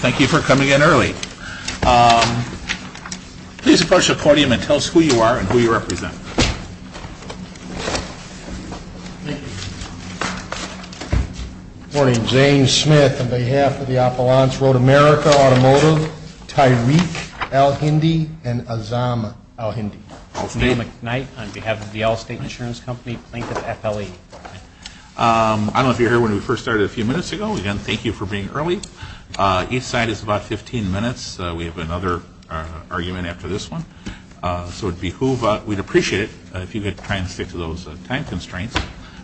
Thank you for coming in early. Please approach the podium and tell us who you are and who you represent. Good morning. Zane Smith on behalf of the Appalachian Road America Automotive, Tyreek Alhindi and Azam Alhindi. Daniel McKnight on behalf of the Allstate Insurance Company, Plaintiff FLE. I don't know if you were here when we first started a few minutes ago. Again, thank you for being early. Each side is about 15 minutes. We have another argument after this one. So we'd appreciate it if you could try and stick to those time constraints.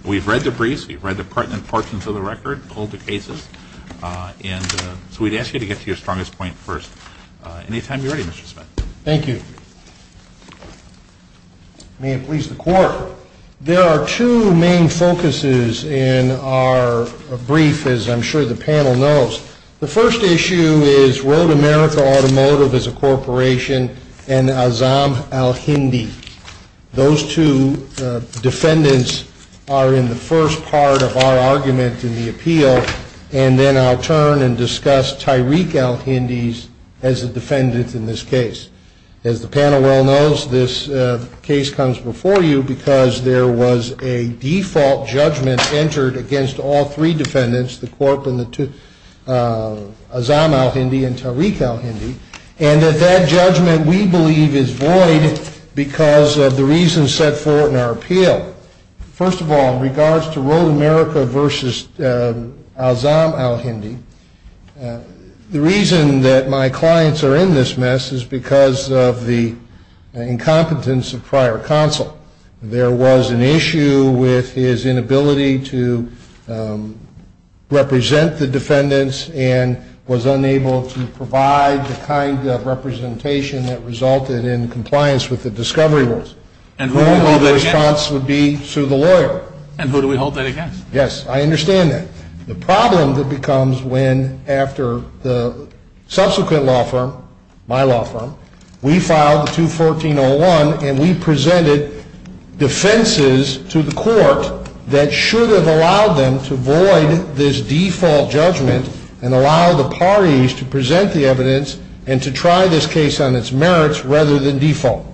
We've read the briefs. We've read the pertinent portions of the record, all the cases. And so we'd ask you to get to your strongest point first. Anytime you're ready, Mr. Smith. Thank you. May it please the Court, there are two main focuses in our brief, as I'm sure the panel knows. The first issue is Road America Automotive is a corporation and Azam Alhindi. Those two defendants are in the first part of our argument in the appeal. And then I'll turn and discuss Tyreek Alhindi as a defendant in this case. As the panel well knows, this case comes before you because there was a default judgment entered against all three defendants, the corp and the two, Azam Alhindi and Tyreek Alhindi. And that that judgment, we believe, is void because of the reasons set forth in our appeal. First of all, in regards to Road America versus Azam Alhindi, the reason that my clients are in this mess is because of the incompetence of prior counsel. There was an issue with his inability to represent the defendants and was unable to provide the kind of representation that resulted in compliance with the discovery rules. And who do we hold that against? The response would be to the lawyer. And who do we hold that against? Yes, I understand that. The problem that becomes when, after the subsequent law firm, my law firm, we filed the 214-01 and we presented defenses to the court that should have allowed them to void this default judgment and allow the parties to present the evidence and to try this case on its merits rather than default.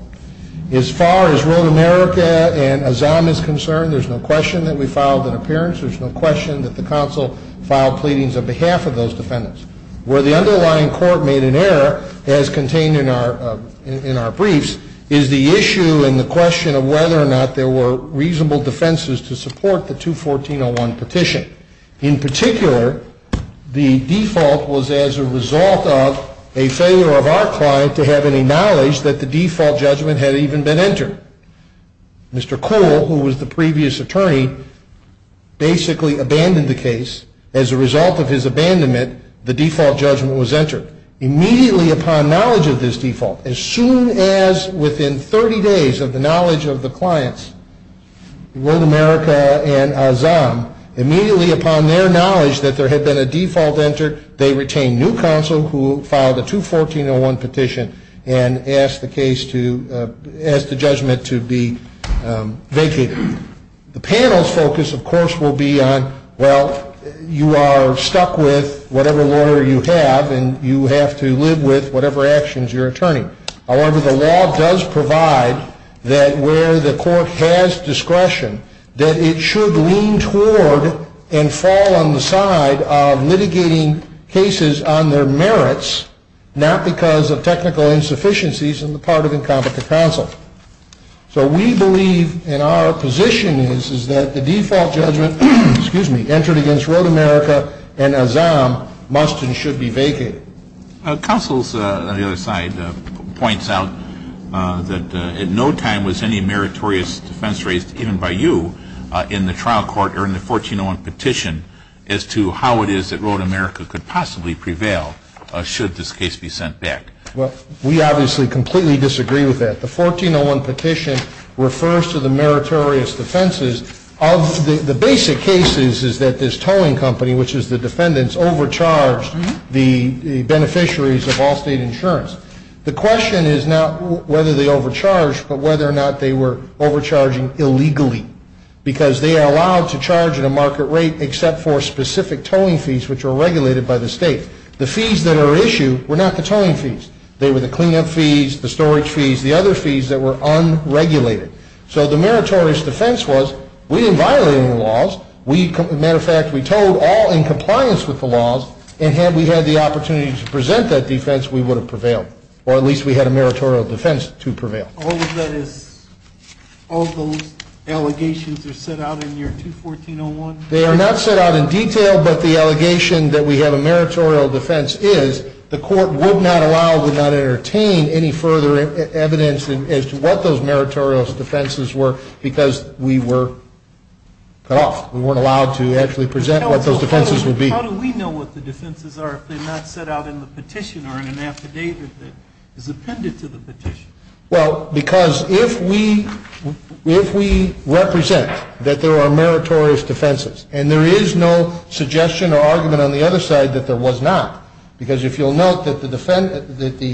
As far as Road America and Azam is concerned, there's no question that we filed an appearance. There's no question that the counsel filed pleadings on behalf of those defendants. Where the underlying court made an error, as contained in our briefs, is the issue and the question of whether or not there were reasonable defenses to support the 214-01 petition. In particular, the default was as a result of a failure of our client to have any knowledge that the default judgment had even been entered. Mr. Kuhl, who was the previous attorney, basically abandoned the case. As a result of his abandonment, the default judgment was entered. Immediately upon knowledge of this default, as soon as within 30 days of the knowledge of the clients, Road America and Azam, immediately upon their knowledge that there had been a default entered, they retained new counsel who filed a 214-01 petition and asked the judgment to be vacated. The panel's focus, of course, will be on, well, you are stuck with whatever lawyer you have, and you have to live with whatever actions your attorney. However, the law does provide that where the court has discretion, that it should lean toward and fall on the side of litigating cases on their merits, not because of technical insufficiencies on the part of incompetent counsel. So we believe, and our position is, is that the default judgment entered against Road America and Azam must and should be vacated. Counsel, on the other side, points out that at no time was any meritorious defense raised, even by you, in the trial court or in the 14-01 petition, as to how it is that Road America could possibly prevail should this case be sent back. Well, we obviously completely disagree with that. The 14-01 petition refers to the meritorious defenses of the basic cases is that this towing company, which is the defendants, overcharged the beneficiaries of all state insurance. The question is not whether they overcharged, but whether or not they were overcharging illegally, because they are allowed to charge at a market rate except for specific towing fees, which are regulated by the state. The fees that are issued were not the towing fees. They were the cleanup fees, the storage fees, the other fees that were unregulated. So the meritorious defense was we didn't violate any laws. We, as a matter of fact, we towed all in compliance with the laws, and had we had the opportunity to present that defense, we would have prevailed, or at least we had a meritorious defense to prevail. All of that is, all those allegations are set out in your 214-01? They are not set out in detail, but the allegation that we have a meritorious defense is the court would not allow, would not entertain any further evidence as to what those meritorious defenses were, because we were cut off. We weren't allowed to actually present what those defenses would be. How do we know what the defenses are if they're not set out in the petition or in an affidavit that is appended to the petition? Well, because if we represent that there are meritorious defenses, and there is no suggestion or argument on the other side that there was not, because if you'll note that the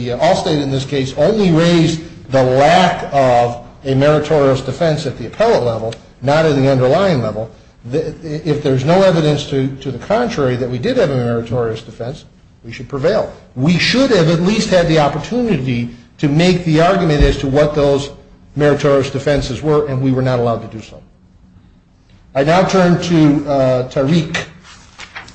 Allstate in this case only raised the lack of a meritorious defense at the appellate level, not at the underlying level, if there's no evidence to the contrary that we did have a meritorious defense, we should prevail. We should have at least had the opportunity to make the argument as to what those meritorious defenses were, and we were not allowed to do so. I now turn to Tariq.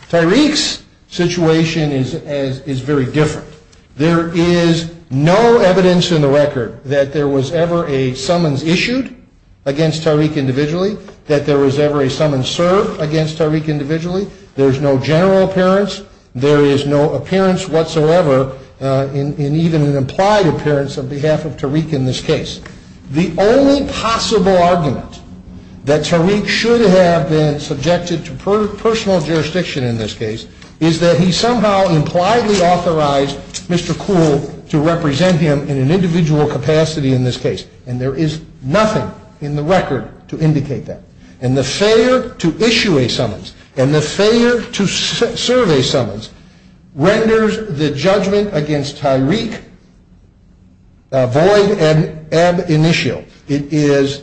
Tariq's situation is very different. There is no evidence in the record that there was ever a summons issued against Tariq individually, that there was ever a summons served against Tariq individually. There's no general appearance. There is no appearance whatsoever in even an implied appearance on behalf of Tariq in this case. The only possible argument that Tariq should have been subjected to personal jurisdiction in this case is that he somehow impliedly authorized Mr. Kuhl to represent him in an individual capacity in this case, and there is nothing in the record to indicate that. And the failure to issue a summons and the failure to serve a summons renders the judgment against Tariq void and ab initio. It is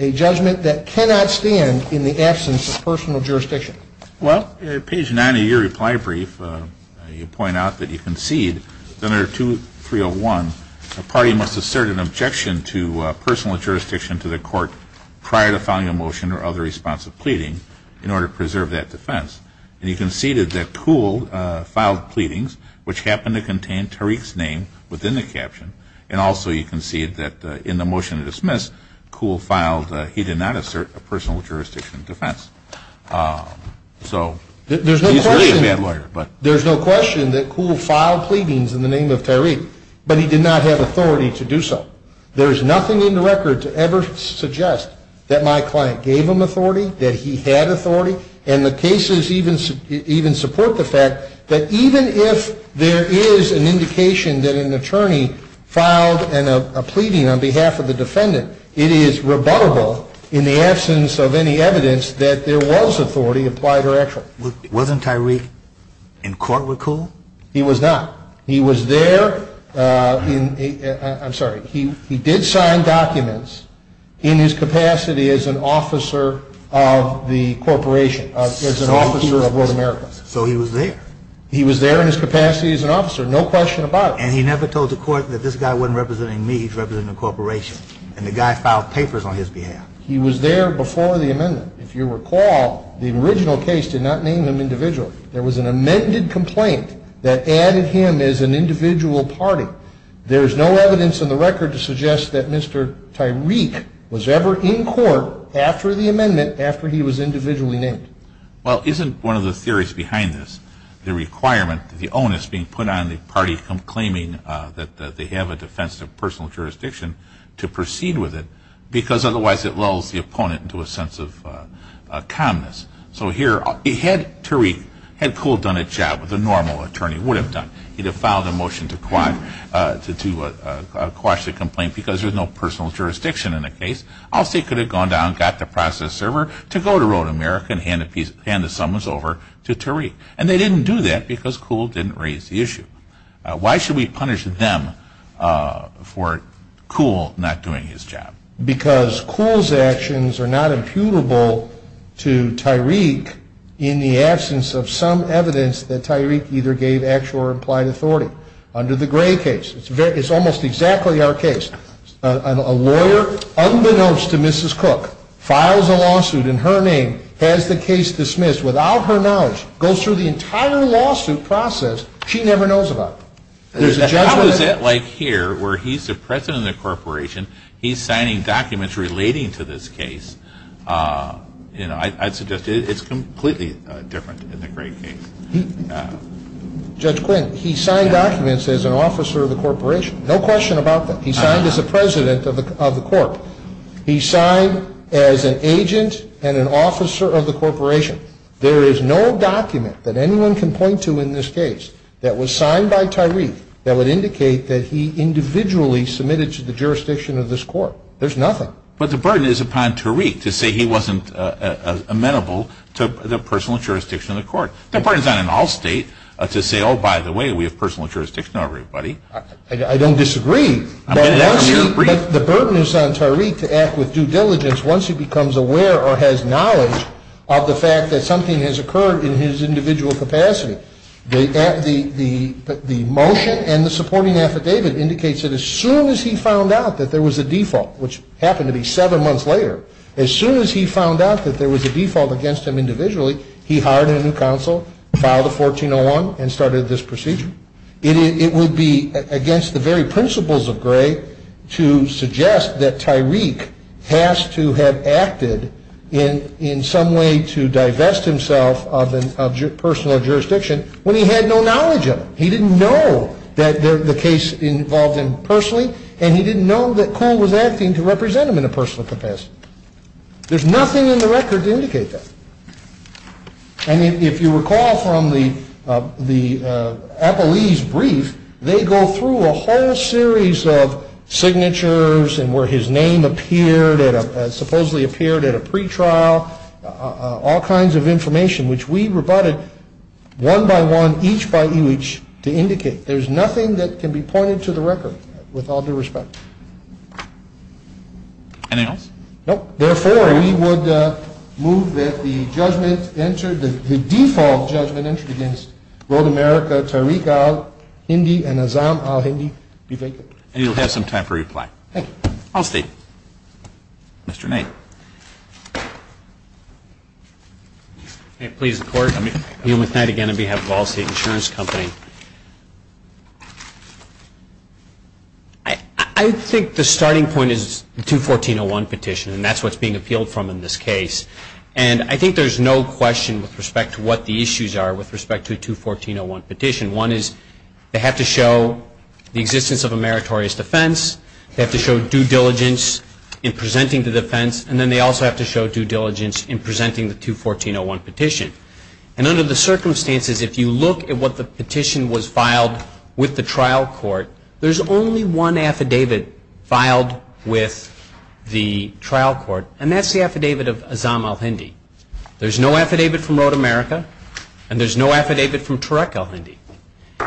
a judgment that cannot stand in the absence of personal jurisdiction. Well, page 90 of your reply brief, you point out that you concede, Senator 2301, a party must assert an objection to personal jurisdiction to the court prior to filing a motion or other response of pleading in order to preserve that defense. And you conceded that Kuhl filed pleadings which happened to contain Tariq's name within the caption, and also you concede that in the motion to dismiss, Kuhl filed, he did not assert a personal jurisdiction defense. So he's really a bad lawyer. There's no question that Kuhl filed pleadings in the name of Tariq, but he did not have authority to do so. There is nothing in the record to ever suggest that my client gave him authority, that he had authority, and the cases even support the fact that even if there is an indication that an attorney filed a pleading on behalf of the defendant, it is rebuttable in the absence of any evidence that there was authority applied or actual. But wasn't Tariq in court with Kuhl? He was not. He was there, I'm sorry, he did sign documents in his capacity as an officer of the corporation, as an officer of North America. So he was there. He was there in his capacity as an officer, no question about it. And he never told the court that this guy wasn't representing me, he was representing the corporation. And the guy filed papers on his behalf. He was there before the amendment. If you recall, the original case did not name him individually. There was an amended complaint that added him as an individual party. There is no evidence in the record to suggest that Mr. Tariq was ever in court after the amendment, after he was individually named. Well, isn't one of the theories behind this the requirement, the onus being put on the party claiming that they have a defense of personal jurisdiction to proceed with it, because otherwise it lulls the opponent into a sense of calmness. So here, had Tariq, had Kuhl done a job that a normal attorney would have done, he'd have filed a motion to quash the complaint because there's no personal jurisdiction in the case. Also, he could have gone down and got the process server to go to Rhode America and hand the summons over to Tariq. And they didn't do that because Kuhl didn't raise the issue. Why should we punish them for Kuhl not doing his job? Because Kuhl's actions are not imputable to Tariq in the absence of some evidence that Tariq either gave actual or implied authority. Under the Gray case, it's almost exactly our case. A lawyer, unbeknownst to Mrs. Cook, files a lawsuit in her name, has the case dismissed without her knowledge, goes through the entire lawsuit process. She never knows about it. How is it like here where he's the president of the corporation, he's signing documents relating to this case? I'd suggest it's completely different in the Gray case. Judge Quinn, he signed documents as an officer of the corporation. No question about that. He signed as a president of the court. He signed as an agent and an officer of the corporation. There is no document that anyone can point to in this case that was signed by Tariq that would indicate that he individually submitted to the jurisdiction of this court. There's nothing. But the burden is upon Tariq to say he wasn't amenable to the personal jurisdiction of the court. The burden is on an all-state to say, oh, by the way, we have personal jurisdiction over everybody. I don't disagree. I'm going to ask you to agree. But the burden is on Tariq to act with due diligence once he becomes aware or has knowledge of the fact that something has occurred in his individual capacity. The motion and the supporting affidavit indicates that as soon as he found out that there was a default, which happened to be seven months later, as soon as he found out that there was a default against him individually, he hired a new counsel, filed a 1401, and started this procedure. It would be against the very principles of Gray to suggest that Tariq has to have acted in some way to divest himself of personal jurisdiction when he had no knowledge of it. He didn't know that the case involved him personally, and he didn't know that Cole was acting to represent him in a personal capacity. There's nothing in the record to indicate that. And if you recall from the Appellee's brief, they go through a whole series of signatures and where his name appeared, supposedly appeared at a pretrial, all kinds of information which we rebutted one by one, each by each, to indicate. There's nothing that can be pointed to the record with all due respect. Anything else? Nope. Therefore, we would move that the judgment entered, the default judgment entered against Rhode America, Tariq al-Hindi, and Azzam al-Hindi be vacant. And you'll have some time for reply. Thank you. All state. Mr. Knight. Please, the Court. Neil McKnight again on behalf of Allstate Insurance Company. I think the starting point is the 214.01 petition, and that's what's being appealed from in this case. And I think there's no question with respect to what the issues are with respect to the 214.01 petition. One is they have to show the existence of a meritorious defense. They have to show due diligence in presenting the defense. And then they also have to show due diligence in presenting the 214.01 petition. And under the circumstances, if you look at what the petition was filed with the trial court, there's only one affidavit filed with the trial court, and that's the affidavit of Azzam al-Hindi. There's no affidavit from Rhode America, and there's no affidavit from Tariq al-Hindi.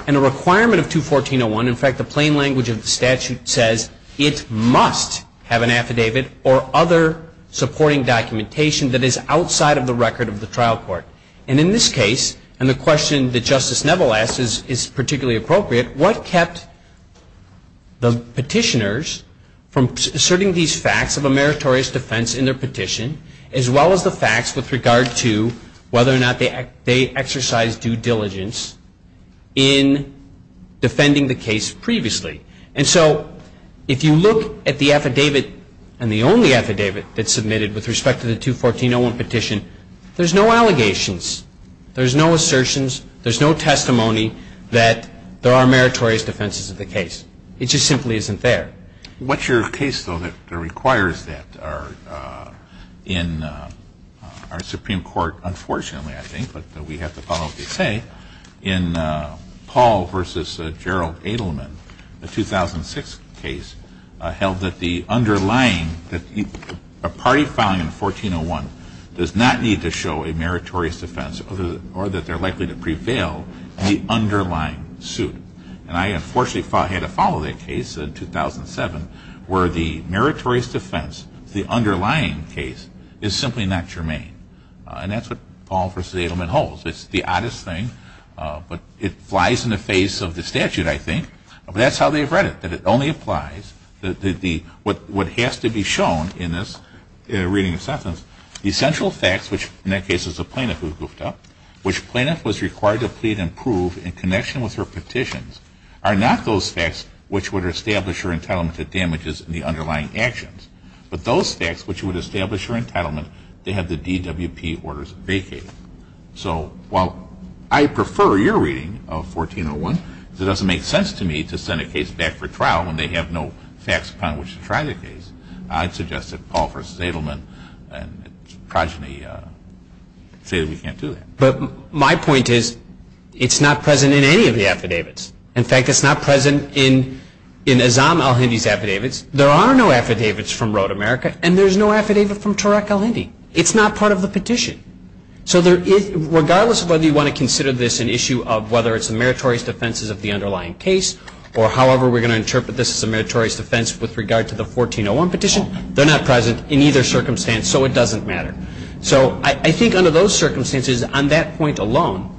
And a requirement of 214.01, in fact, the plain language of the statute says it must have an affidavit or other supporting documentation that is outside of the record of the trial court. And in this case, and the question that Justice Neville asked is particularly appropriate, what kept the petitioners from asserting these facts of a meritorious defense in their petition, as well as the facts with regard to whether or not they exercised due diligence in defending the case previously? And so if you look at the affidavit and the only affidavit that's submitted with respect to the 214.01 petition, there's no allegations. There's no assertions. There's no testimony that there are meritorious defenses of the case. It just simply isn't there. What's your case, though, that requires that in our Supreme Court, unfortunately, I think, but we have to follow what they say. In Paul v. Gerald Edelman, the 2006 case held that the underlying, that a party filing in 1401 does not need to show a meritorious defense or that they're likely to prevail in the underlying suit. And I unfortunately had to follow that case in 2007 where the meritorious defense, the underlying case, is simply not germane. And that's what Paul v. Edelman holds. It's the oddest thing, but it flies in the face of the statute, I think. But that's how they've read it, that it only applies. What has to be shown in this reading of the sentence, the essential facts, which in that case is the plaintiff who goofed up, which the plaintiff was required to plead and prove in connection with her petitions, are not those facts which would establish her entitlement to damages in the underlying actions, but those facts which would establish her entitlement to have the DWP orders vacated. So while I prefer your reading of 1401, because it doesn't make sense to me to send a case back for trial when they have no facts upon which to try the case, I'd suggest that Paul v. Edelman and its progeny say that we can't do that. But my point is it's not present in any of the affidavits. In fact, it's not present in Azzam al-Hindi's affidavits. There are no affidavits from Road America, and there's no affidavit from Turek al-Hindi. It's not part of the petition. So regardless of whether you want to consider this an issue of whether it's a meritorious defense of the underlying case or however we're going to interpret this as a meritorious defense with regard to the 1401 petition, they're not present in either circumstance, so it doesn't matter. So I think under those circumstances, on that point alone,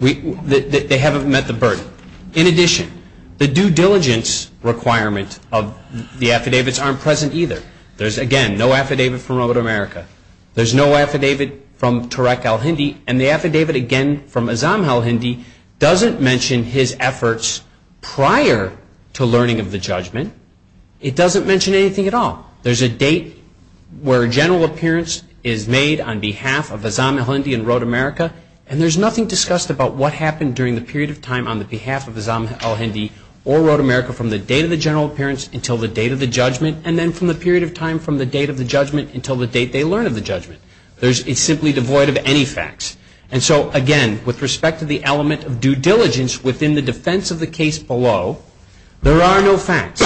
they haven't met the burden. In addition, the due diligence requirement of the affidavits aren't present either. There's, again, no affidavit from Road America. There's no affidavit from Turek al-Hindi, and the affidavit, again, from Azzam al-Hindi doesn't mention his efforts prior to learning of the judgment. It doesn't mention anything at all. There's a date where a general appearance is made on behalf of Azzam al-Hindi and Road America, and there's nothing discussed about what happened during the period of time on behalf of Azzam al-Hindi or Road America from the date of the general appearance until the date of the judgment, and then from the period of time from the date of the judgment until the date they learn of the judgment. It's simply devoid of any facts. And so, again, with respect to the element of due diligence within the defense of the case below, there are no facts.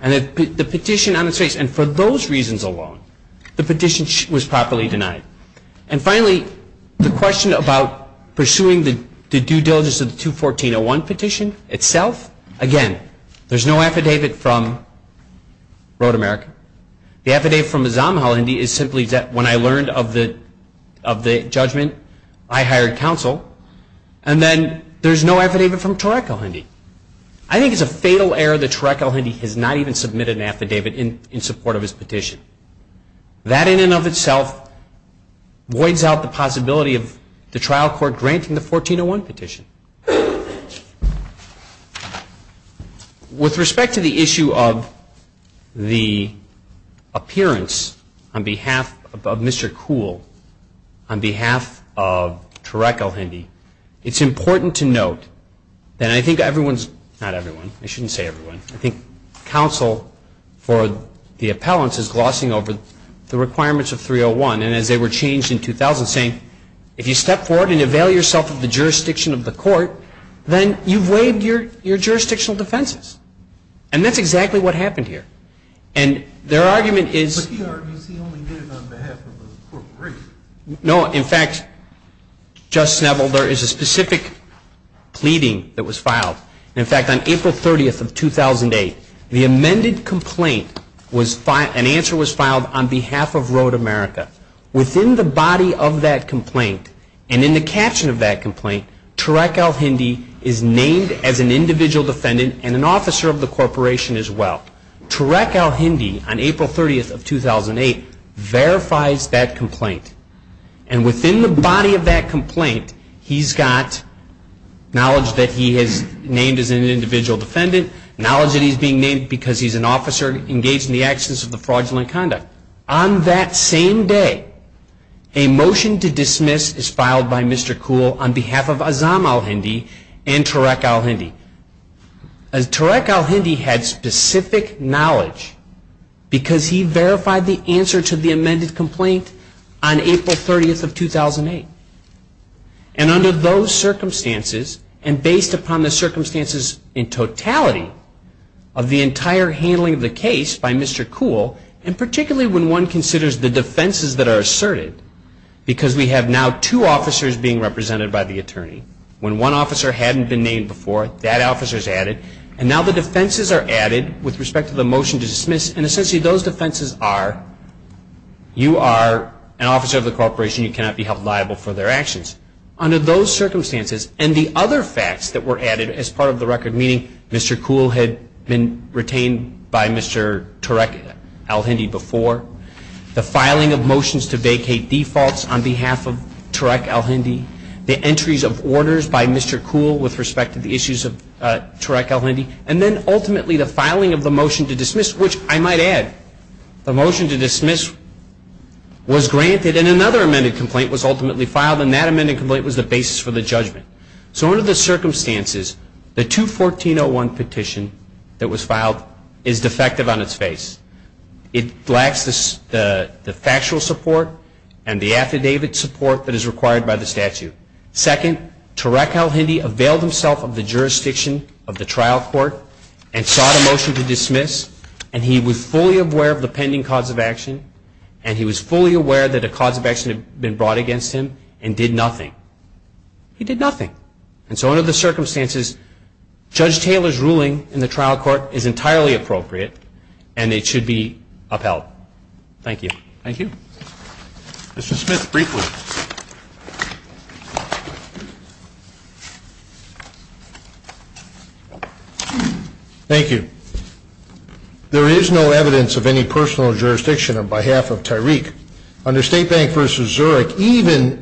And the petition on its face, and for those reasons alone, the petition was properly denied. And finally, the question about pursuing the due diligence of the 214-01 petition itself, again, there's no affidavit from Road America. The affidavit from Azzam al-Hindi is simply that when I learned of the judgment, I hired counsel, and then there's no affidavit from Turek al-Hindi. I think it's a fatal error that Turek al-Hindi has not even submitted an affidavit in support of his petition. That in and of itself voids out the possibility of the trial court granting the 14-01 petition. With respect to the issue of the appearance on behalf of Mr. Kuhl, on behalf of Turek al-Hindi, it's important to note that I think everyone's, not everyone, I shouldn't say everyone, but I think counsel for the appellants is glossing over the requirements of 301. And as they were changed in 2000, saying if you step forward and avail yourself of the jurisdiction of the court, then you've waived your jurisdictional defenses. And that's exactly what happened here. And their argument is – But he argues he only did it on behalf of the corporation. No, in fact, Justice Neville, there is a specific pleading that was filed. In fact, on April 30th of 2008, the amended complaint, an answer was filed on behalf of Road America. Within the body of that complaint, and in the caption of that complaint, Turek al-Hindi is named as an individual defendant and an officer of the corporation as well. Turek al-Hindi, on April 30th of 2008, verifies that complaint. And within the body of that complaint, he's got knowledge that he is named as an individual defendant, knowledge that he's being named because he's an officer engaged in the actions of the fraudulent conduct. On that same day, a motion to dismiss is filed by Mr. Kuhl on behalf of Azzam al-Hindi and Turek al-Hindi. Turek al-Hindi had specific knowledge because he verified the answer to the amended complaint on April 30th of 2008. And under those circumstances, and based upon the circumstances in totality of the entire handling of the case by Mr. Kuhl, and particularly when one considers the defenses that are asserted, because we have now two officers being represented by the attorney. When one officer hadn't been named before, that officer is added. And now the defenses are added with respect to the motion to dismiss. And essentially those defenses are, you are an officer of the corporation. You cannot be held liable for their actions. Under those circumstances and the other facts that were added as part of the record, meaning Mr. Kuhl had been retained by Mr. Turek al-Hindi before, the filing of motions to vacate defaults on behalf of Turek al-Hindi, the entries of orders by Mr. Kuhl with respect to the issues of Turek al-Hindi, and then ultimately the filing of the motion to dismiss, which I might add, the motion to dismiss was granted and another amended complaint was ultimately filed and that amended complaint was the basis for the judgment. So under the circumstances, the 214-01 petition that was filed is defective on its face. It lacks the factual support and the affidavit support that is required by the statute. Second, Turek al-Hindi availed himself of the jurisdiction of the trial court and sought a motion to dismiss and he was fully aware of the pending cause of action and he was fully aware that a cause of action had been brought against him and did nothing. He did nothing. And so under the circumstances, Judge Taylor's ruling in the trial court is entirely appropriate and it should be upheld. Thank you. Thank you. Mr. Smith, briefly. Thank you. There is no evidence of any personal jurisdiction on behalf of Tyreek. Under State Bank v. Zurich, even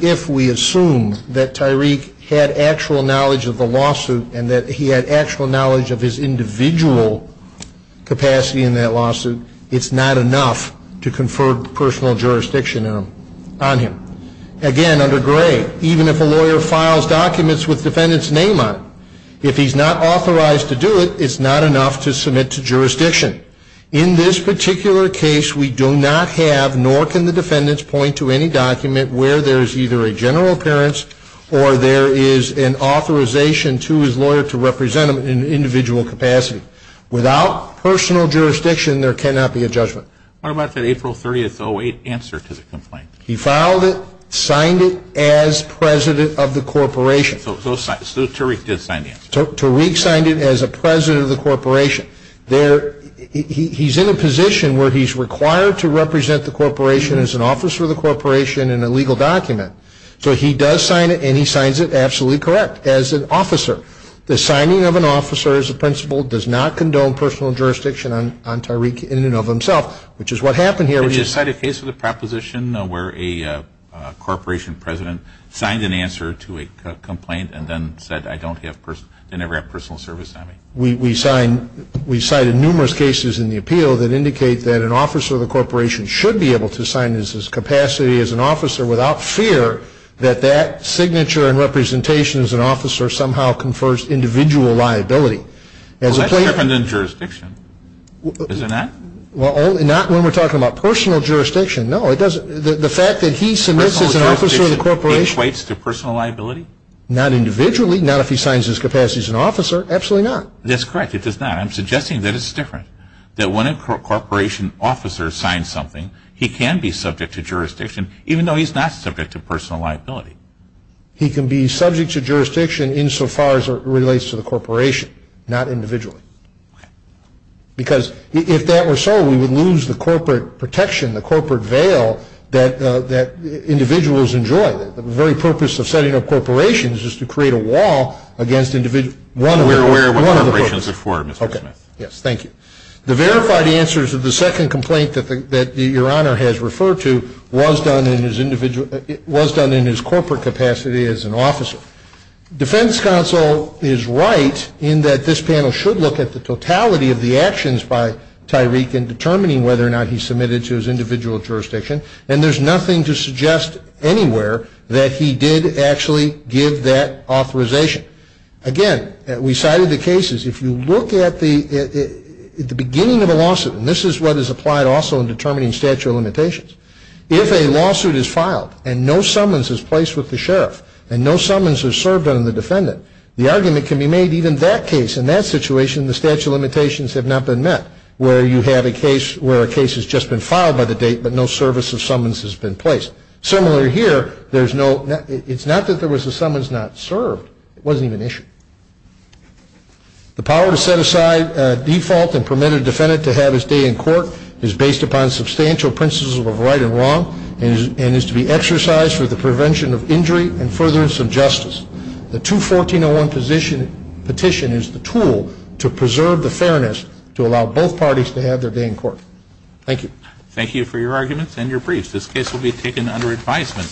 if we assume that Tyreek had actual knowledge of the lawsuit and that he had actual knowledge of his individual capacity in that lawsuit, it's not enough to confer personal jurisdiction on him. Again, under Gray, even if a lawyer files documents with defendant's name on it, if he's not authorized to do it, it's not enough to submit to jurisdiction. In this particular case, we do not have, nor can the defendants point to any document where there is either a general appearance or there is an authorization to his lawyer to represent him in an individual capacity. Without personal jurisdiction, there cannot be a judgment. What about that April 30th, 08 answer to the complaint? He filed it, signed it as president of the corporation. So Tyreek did sign the answer. Tyreek signed it as a president of the corporation. He's in a position where he's required to represent the corporation as an officer of the corporation in a legal document. So he does sign it, and he signs it absolutely correct, as an officer. The signing of an officer as a principal does not condone personal jurisdiction on Tyreek in and of himself, which is what happened here. Did you cite a case of the proposition where a corporation president signed an answer to a complaint and then said, I don't have personal service on me? We cited numerous cases in the appeal that indicate that an officer of the corporation should be able to sign his capacity as an officer without fear that that signature and representation as an officer somehow confers individual liability. Well, that's different than jurisdiction. Is it not? Well, not when we're talking about personal jurisdiction. No, it doesn't. The fact that he submits as an officer of the corporation. Personal jurisdiction equates to personal liability? Not individually. Not if he signs his capacity as an officer. Absolutely not. That's correct. It does not. But I'm suggesting that it's different, that when a corporation officer signs something, he can be subject to jurisdiction, even though he's not subject to personal liability. He can be subject to jurisdiction insofar as it relates to the corporation, not individually. Okay. Because if that were so, we would lose the corporate protection, the corporate veil, that individuals enjoy. The very purpose of setting up corporations is to create a wall against individuals. We're aware of what corporations are for, Mr. Smith. Okay. Yes, thank you. The verified answers of the second complaint that Your Honor has referred to was done in his corporate capacity as an officer. Defense counsel is right in that this panel should look at the totality of the actions by Tyreek in determining whether or not he submitted to his individual jurisdiction, and there's nothing to suggest anywhere that he did actually give that authorization. Again, we cited the cases. If you look at the beginning of a lawsuit, and this is what is applied also in determining statute of limitations, if a lawsuit is filed and no summons is placed with the sheriff and no summons are served on the defendant, the argument can be made even that case, in that situation, the statute of limitations have not been met, where you have a case where a case has just been filed by the date but no service of summons has been placed. Similarly here, it's not that there was a summons not served. It wasn't even issued. The power to set aside default and permit a defendant to have his day in court is based upon substantial principles of right and wrong and is to be exercised for the prevention of injury and furtherance of justice. The 214.01 petition is the tool to preserve the fairness to allow both parties to have their day in court. Thank you. Thank you for your arguments and your briefs. This case will be taken under advisement.